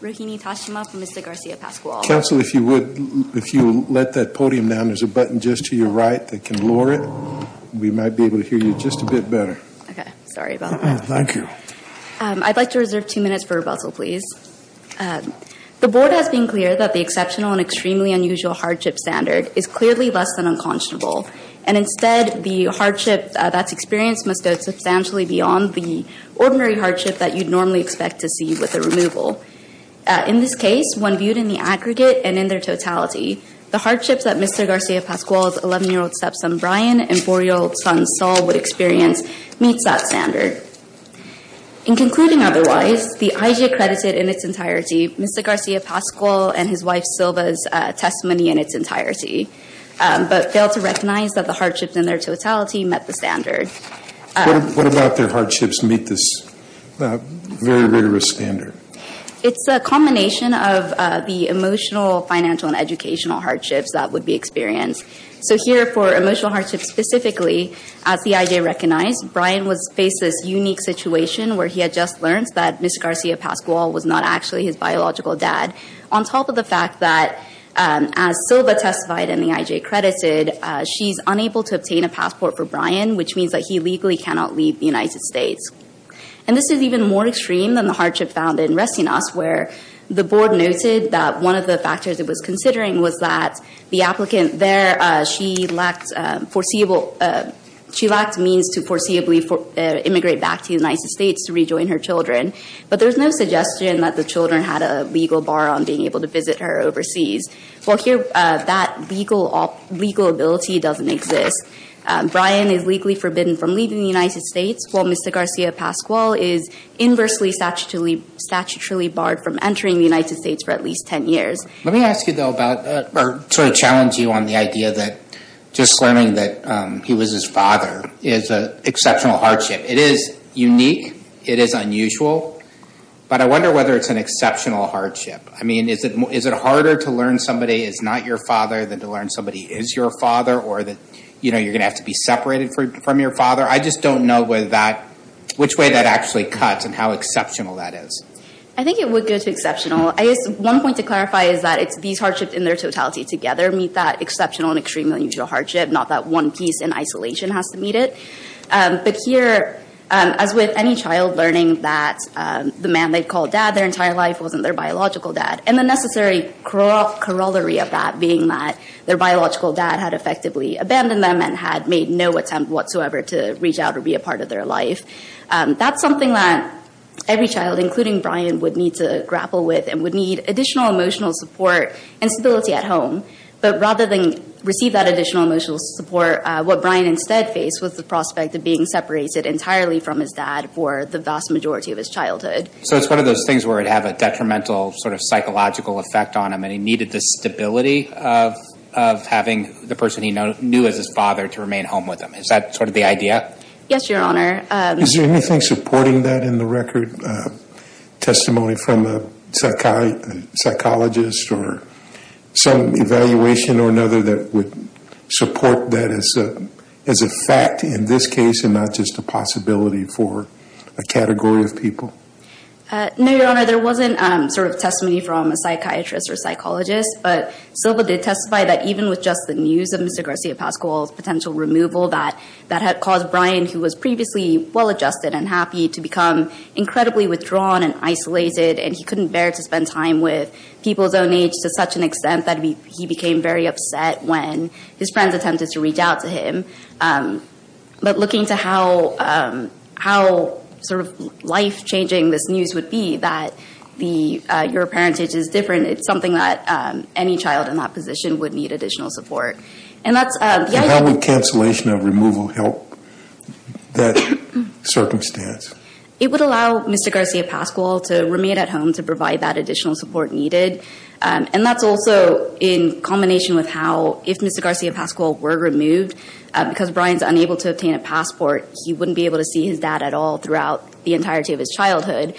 Ruhini Tashima I would like to reserve two minutes for rebuttal please. The board has been clear that the exceptional and extremely unusual hardship standard is clearly less than unconscionable, and instead the hardship that's experienced must go substantially beyond the ordinary hardship that you'd normally expect to see with a removal. In this case, one viewed in the aggregate and in their totality, the hardships that Mr. Garcia-Pascual's 11-year-old stepson Brian and 4-year-old son Saul would experience meets that standard. In concluding otherwise, the IG accredited in its entirety Mr. Garcia-Pascual and his testimony in its entirety, but failed to recognize that the hardships in their totality met the standard. What about their hardships meet this very rigorous standard? It's a combination of the emotional, financial, and educational hardships that would be experienced. So here for emotional hardships specifically, as the IG recognized, Brian faced this unique situation where he had just learned that Mr. Garcia-Pascual was not actually his biological dad. On top of the fact that as Silva testified and the IG accredited, she's unable to obtain a passport for Brian, which means that he legally cannot leave the United States. And this is even more extreme than the hardship found in Resting Us, where the board noted that one of the factors it was considering was that the applicant there, she lacked foreseeable – she lacked means to foreseeably immigrate back to the United States to rejoin her children. But there's no suggestion that the children had a legal bar on being able to visit her overseas. Well here, that legal ability doesn't exist. Brian is legally forbidden from leaving the United States, while Mr. Garcia-Pascual is inversely statutorily barred from entering the United States for at least 10 years. Let me ask you though about – or sort of challenge you on the idea that just learning that he was his father is an exceptional hardship. It is unique, it is unusual, but I wonder whether it's an exceptional hardship. I mean, is it harder to learn somebody is not your father than to learn somebody is your father or that, you know, you're going to have to be separated from your father? I just don't know whether that – which way that actually cuts and how exceptional that is. I think it would go to exceptional. I guess one point to clarify is that it's these hardships in their totality together meet that exceptional and extremely unusual hardship, not that one piece in isolation has to meet it. But here, as with any child learning that the man they called dad their entire life wasn't their biological dad, and the necessary corollary of that being that their biological dad had effectively abandoned them and had made no attempt whatsoever to reach out or be a part of their life, that's something that every child, including Brian, would need to grapple with and would need additional emotional support and stability at home. But rather than receive that additional emotional support, what Brian instead faced was the prospect of being separated entirely from his dad for the vast majority of his childhood. So it's one of those things where it would have a detrimental sort of psychological effect on him and he needed the stability of having the person he knew as his father to remain home with him. Is that sort of the idea? Yes, Your Honor. Is there anything supporting that in the record, testimony from a psychologist or some evaluation or another that would support that as a fact in this case and not just a possibility for a category of people? No, Your Honor. There wasn't sort of testimony from a psychiatrist or psychologist, but Silva did testify that even with just the news of Mr. Garcia-Pascual's potential removal that had caused Brian, who was previously well-adjusted and happy, to become incredibly withdrawn and isolated and he couldn't bear to spend time with people his own age to such an extent that he became very upset when his friends attempted to reach out to him. But looking to how sort of life-changing this news would be that your parentage is different, it's something that any child in that position would need additional support. And that's… How would cancellation of removal help that circumstance? It would allow Mr. Garcia-Pascual to remain at home to provide that additional support And that's also in combination with how, if Mr. Garcia-Pascual were removed, because Brian's unable to obtain a passport, he wouldn't be able to see his dad at all throughout the entirety of his childhood,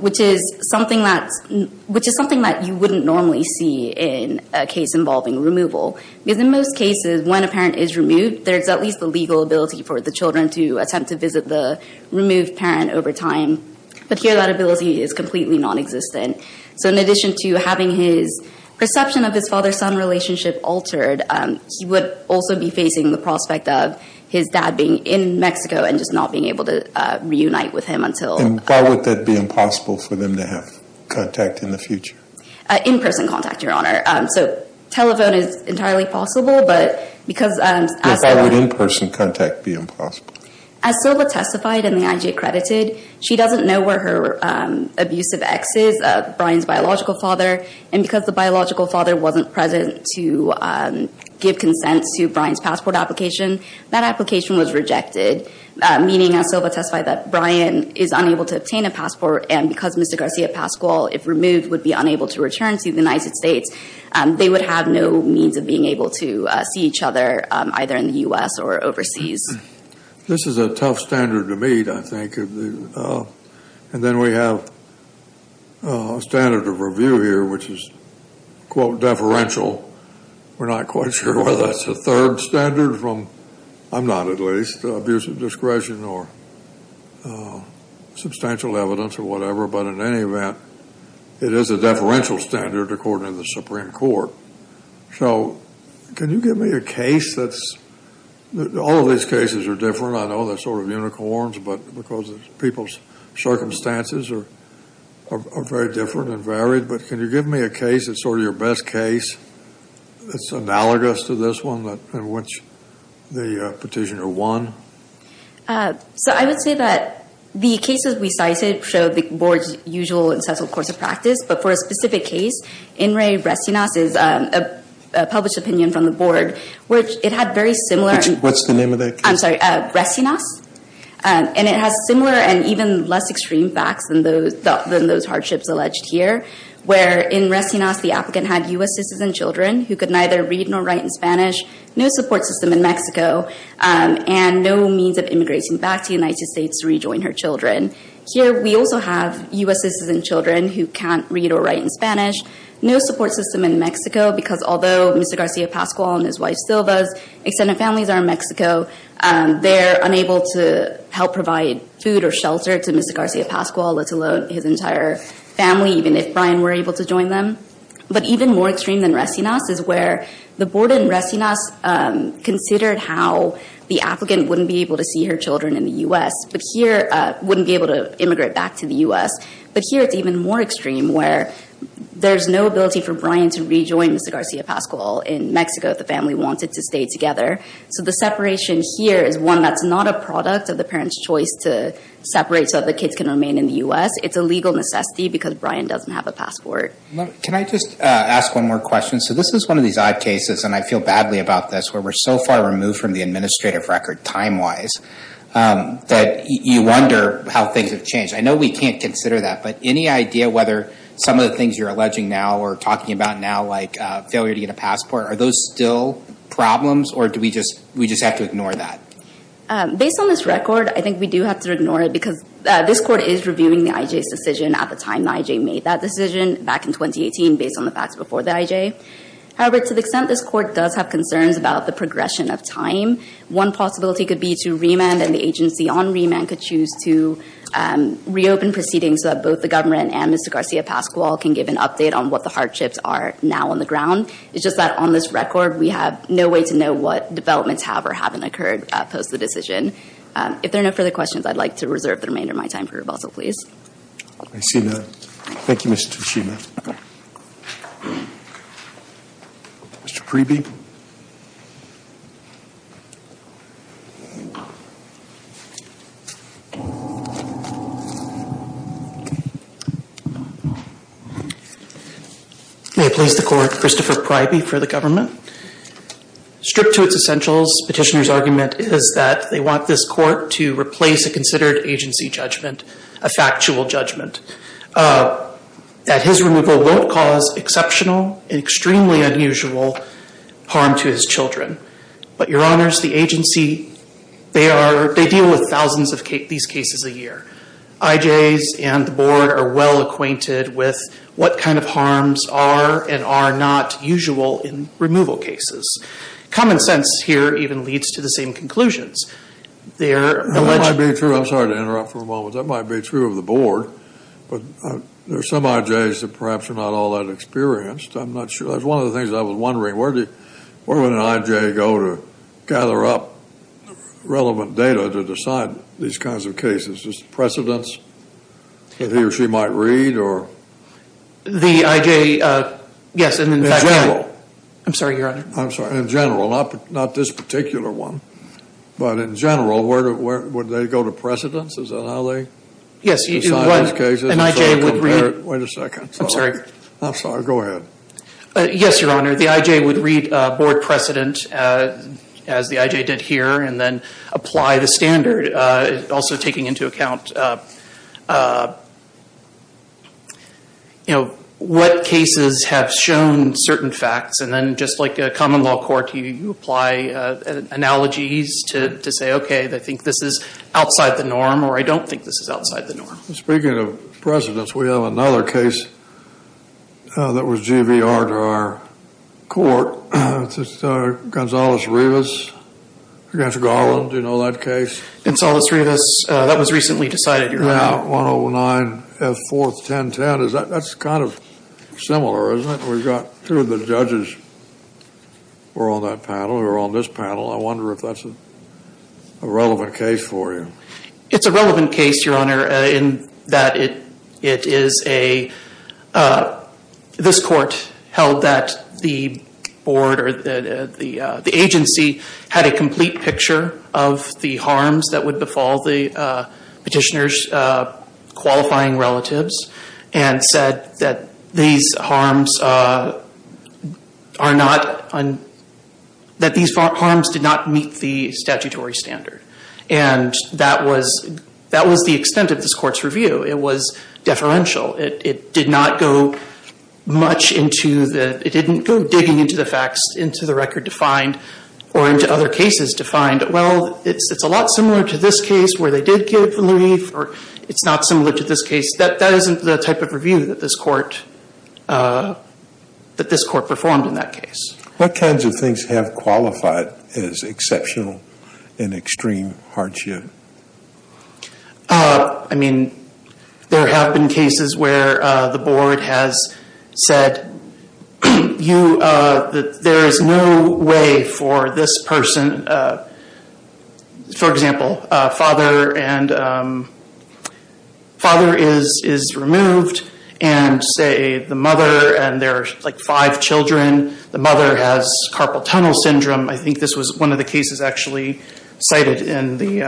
which is something that you wouldn't normally see in a case involving removal. Because in most cases, when a parent is removed, there's at least the legal ability for the children to attempt to visit the removed parent over time. But here that ability is completely nonexistent. So in addition to having his perception of his father-son relationship altered, he would also be facing the prospect of his dad being in Mexico and just not being able to reunite with him until… And why would that be impossible for them to have contact in the future? In-person contact, Your Honor. So telephone is entirely possible, but because… Why would in-person contact be impossible? As Silva testified in the IG Accredited, she doesn't know where her abusive ex is, Brian's biological father. And because the biological father wasn't present to give consent to Brian's passport application, that application was rejected, meaning, as Silva testified, that Brian is unable to obtain a passport and because Mr. Garcia-Pascual, if removed, would be unable to return to the United States, they would have no means of being able to see each other either in the U.S. or overseas. This is a tough standard to meet, I think. And then we have a standard of review here, which is, quote, deferential. We're not quite sure whether that's a third standard from, I'm not at least, abusive discretion or substantial evidence or whatever. But in any event, it is a deferential standard according to the Supreme Court. So, can you give me a case that's… All of these cases are different. I know they're sort of unicorns, but because people's circumstances are very different and varied, but can you give me a case that's sort of your best case that's analogous to this one in which the petitioner won? So I would say that the cases we cited show the board's usual and sensible course of practice, but for a specific case, Inri Restinas is a published opinion from the board, which it had very similar… What's the name of that case? I'm sorry. Restinas. And it has similar and even less extreme facts than those hardships alleged here, where in Restinas the applicant had U.S. citizens and children who could neither read nor write in Spanish, no support system in Mexico, and no means of immigrating back to the United States to rejoin her children. Here, we also have U.S. citizens and children who can't read or write in Spanish, no support system in Mexico, because although Mr. Garcia Pasqual and his wife Silva's extended families are in Mexico, they're unable to help provide food or shelter to Mr. Garcia Pasqual, let alone his entire family, even if Brian were able to join them. But even more extreme than Restinas is where the board in Restinas considered how the applicant wouldn't be able to see her children in the U.S., wouldn't be able to immigrate back to the U.S., but here it's even more extreme where there's no ability for Brian to rejoin Mr. Garcia Pasqual in Mexico if the family wanted to stay together. So the separation here is one that's not a product of the parent's choice to separate so that the kids can remain in the U.S. It's a legal necessity because Brian doesn't have a passport. Can I just ask one more question? So this is one of these odd cases, and I feel badly about this, where we're so far removed from the administrative record time-wise that you wonder how things have changed. I know we can't consider that, but any idea whether some of the things you're alleging now or talking about now, like failure to get a passport, are those still problems or do we just have to ignore that? Based on this record, I think we do have to ignore it because this court is reviewing the IJ's decision at the time the IJ made that decision back in 2018 based on the facts before the IJ. However, to the extent this court does have concerns about the progression of time, one possibility could be to remand and the agency on remand could choose to reopen proceedings so that both the government and Mr. Garcia Pasqual can give an update on what the hardships are now on the ground. It's just that on this record, we have no way to know what developments have or haven't occurred post the decision. If there are no further questions, I'd like to reserve the remainder of my time for rebuttal, please. I see that. Thank you, Ms. Tuchina. Mr. Priebe? May it please the court, Christopher Priebe for the government. Stripped to its essentials, petitioner's argument is that they want this court to replace a considered agency judgment, a factual judgment. That his removal won't cause exceptional and extremely unusual harm to his children. But your honors, the agency, they deal with thousands of these cases a year. IJs and the board are well acquainted with what kind of harms are and are not usual in removal cases. Common sense here even leads to the same conclusions. They're alleged... That might be true. I'm sorry to interrupt for a moment. That might be true of the board. But there are some IJs that perhaps are not all that experienced. I'm not sure. That's one of the things I was wondering. Where would an IJ go to gather up relevant data to decide these kinds of cases? Is it precedents that he or she might read or... The IJ, yes, and in fact... I'm sorry, your honor. I'm sorry. In general. Not this particular one. But in general, where would they go to precedence? Is that how they... Yes. ...decide these cases? And so compare... Wait a second. I'm sorry. I'm sorry. Go ahead. Yes, your honor. The IJ would read board precedent as the IJ did here and then apply the standard. Also taking into account, you know, what cases have shown certain facts and then just like a common law court, you apply analogies to say, okay, they think this is outside the norm or I don't think this is outside the norm. Speaking of precedents, we have another case that was GBR to our court. It's Gonzales-Rivas against Garland. Do you know that case? Gonzales-Rivas. That was recently decided, your honor. Yeah. 109F41010. That's kind of similar, isn't it? We've got two of the judges who are on that panel, who are on this panel. I wonder if that's a relevant case for you. It's a relevant case, your honor, in that it is a... This court held that the board or the agency had a complete picture of the harms that would befall the petitioner's qualifying relatives and said that these harms did not meet the statutory standard. And that was the extent of this court's review. It was deferential. It did not go much into the... It didn't go digging into the facts, into the record to find or into other cases to find, well, it's a lot similar to this case where they did give relief or it's not similar to this case. That isn't the type of review that this court performed in that case. What kinds of things have qualified as exceptional and extreme hardship? I mean, there have been cases where the board has said that there is no way for this person... For example, a father is removed and, say, the mother and there are like five children. The mother has carpal tunnel syndrome. I think this was one of the cases actually cited in the...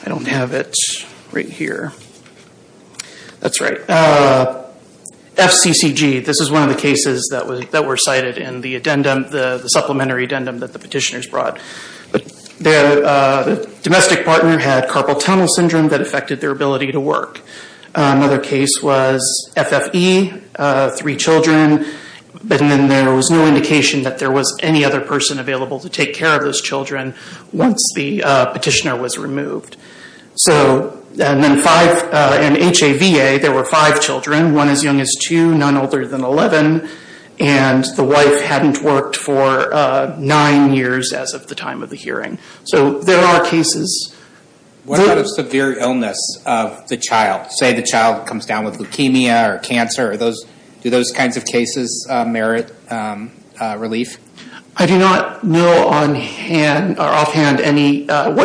I don't have it right here. That's right. FCCG, this is one of the cases that were cited in the addendum, the supplementary addendum that the petitioners brought. The domestic partner had carpal tunnel syndrome that affected their ability to work. Another case was FFE, three children, but then there was no indication that there was any other person available to take care of those children once the petitioner was removed. And then in HAVA, there were five children, one as young as two, none older than 11, and the wife hadn't worked for nine years as of the time of the hearing. There are cases... What about a severe illness of the child? Say the child comes down with leukemia or cancer, do those kinds of cases merit relief? I do not know offhand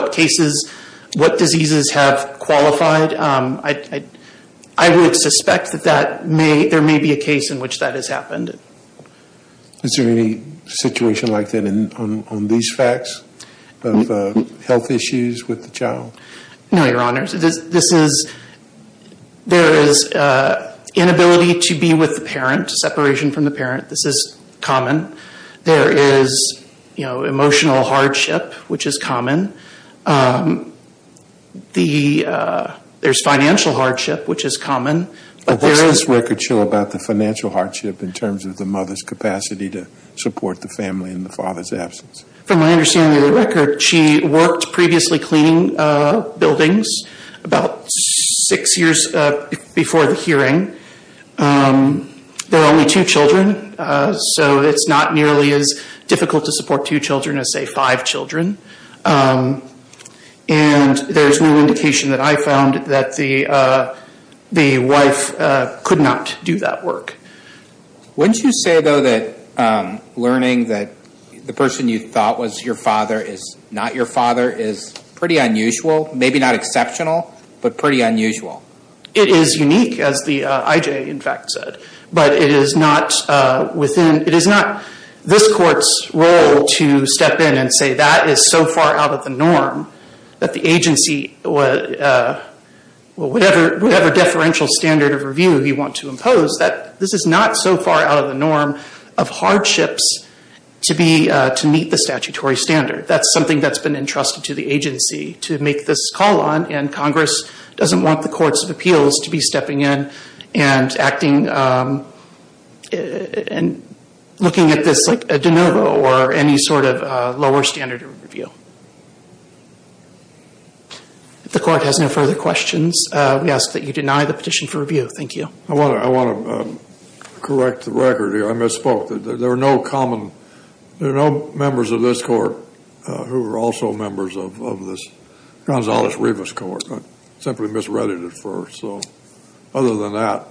what diseases have qualified. I would suspect that there may be a case in which that has happened. Is there any situation like that on these facts of health issues with the child? No, Your Honors. There is inability to be with the parent, separation from the parent, this is common. There is emotional hardship, which is common. There's financial hardship, which is common. What's this record show about the financial hardship in terms of the mother's capacity to support the family in the father's absence? From my understanding of the record, she worked previously cleaning buildings about six years before the hearing. There are only two children, so it's not nearly as difficult to support two children as, say, five children. And there's no indication that I found that the wife could not do that work. Wouldn't you say, though, that learning that the person you thought was your father is not your father is pretty unusual? Maybe not exceptional, but pretty unusual? It is unique, as the IJ, in fact, said. But it is not this court's role to step in and say that is so far out of the norm that the agency, whatever deferential standard of review you want to impose, that this is not so far out of the norm of hardships to meet the statutory standard. That's something that's been entrusted to the agency to make this call on, and Congress doesn't want the courts of appeals to be stepping in and acting and looking at this like a de novo or any sort of lower standard of review. If the court has no further questions, we ask that you deny the petition for review. Thank you. I want to correct the record here. I misspoke. There are no members of this court who are also members of this Gonzales-Rivas court. I simply misread it at first. So other than that.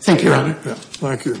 Thank you, Your Honor. Thank you.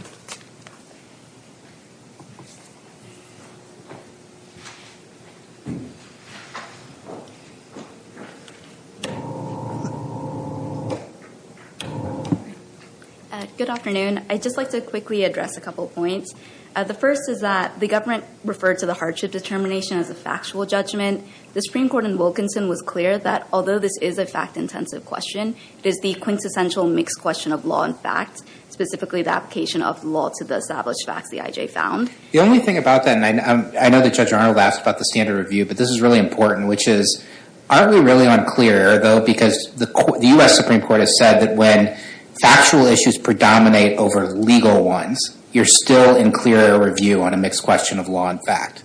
Good afternoon. I'd just like to quickly address a couple of points. The first is that the government referred to the hardship determination as a factual judgment. The Supreme Court in Wilkinson was clear that although this is a fact-intensive question, it is the quintessential mixed question of law and fact, specifically the application of law to the established facts the IJ found. The only thing about that, and I know that Judge Arnold asked about the standard review, but this is really important, which is aren't we really unclear, though, because the U.S. Supreme Court has said that when factual issues predominate over legal ones, you're still in clear review on a mixed question of law and fact.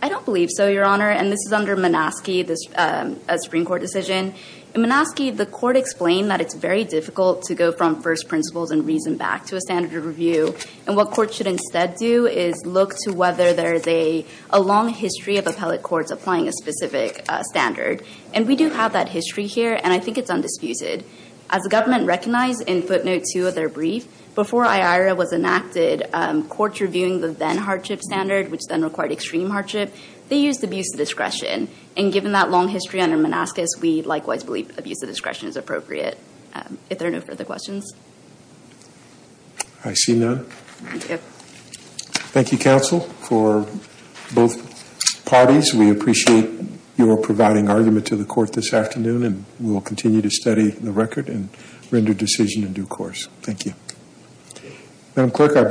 I don't believe so, Your Honor. And this is under Minaski, a Supreme Court decision. In Minaski, the court explained that it's very difficult to go from first principles and reason back to a standard review. And what courts should instead do is look to whether there is a long history of appellate courts applying a specific standard. And we do have that history here, and I think it's undisputed. As the government recognized in footnote two of their brief, before IARA was enacted, courts reviewing the then-hardship standard, which then required extreme hardship, they used abuse of discretion. And given that long history under Minaski, we likewise believe abuse of discretion is appropriate. If there are no further questions. I see none. Thank you, counsel, for both parties. We appreciate your providing argument to the court this afternoon, and we'll continue to study the record and render decision in due course. Thank you.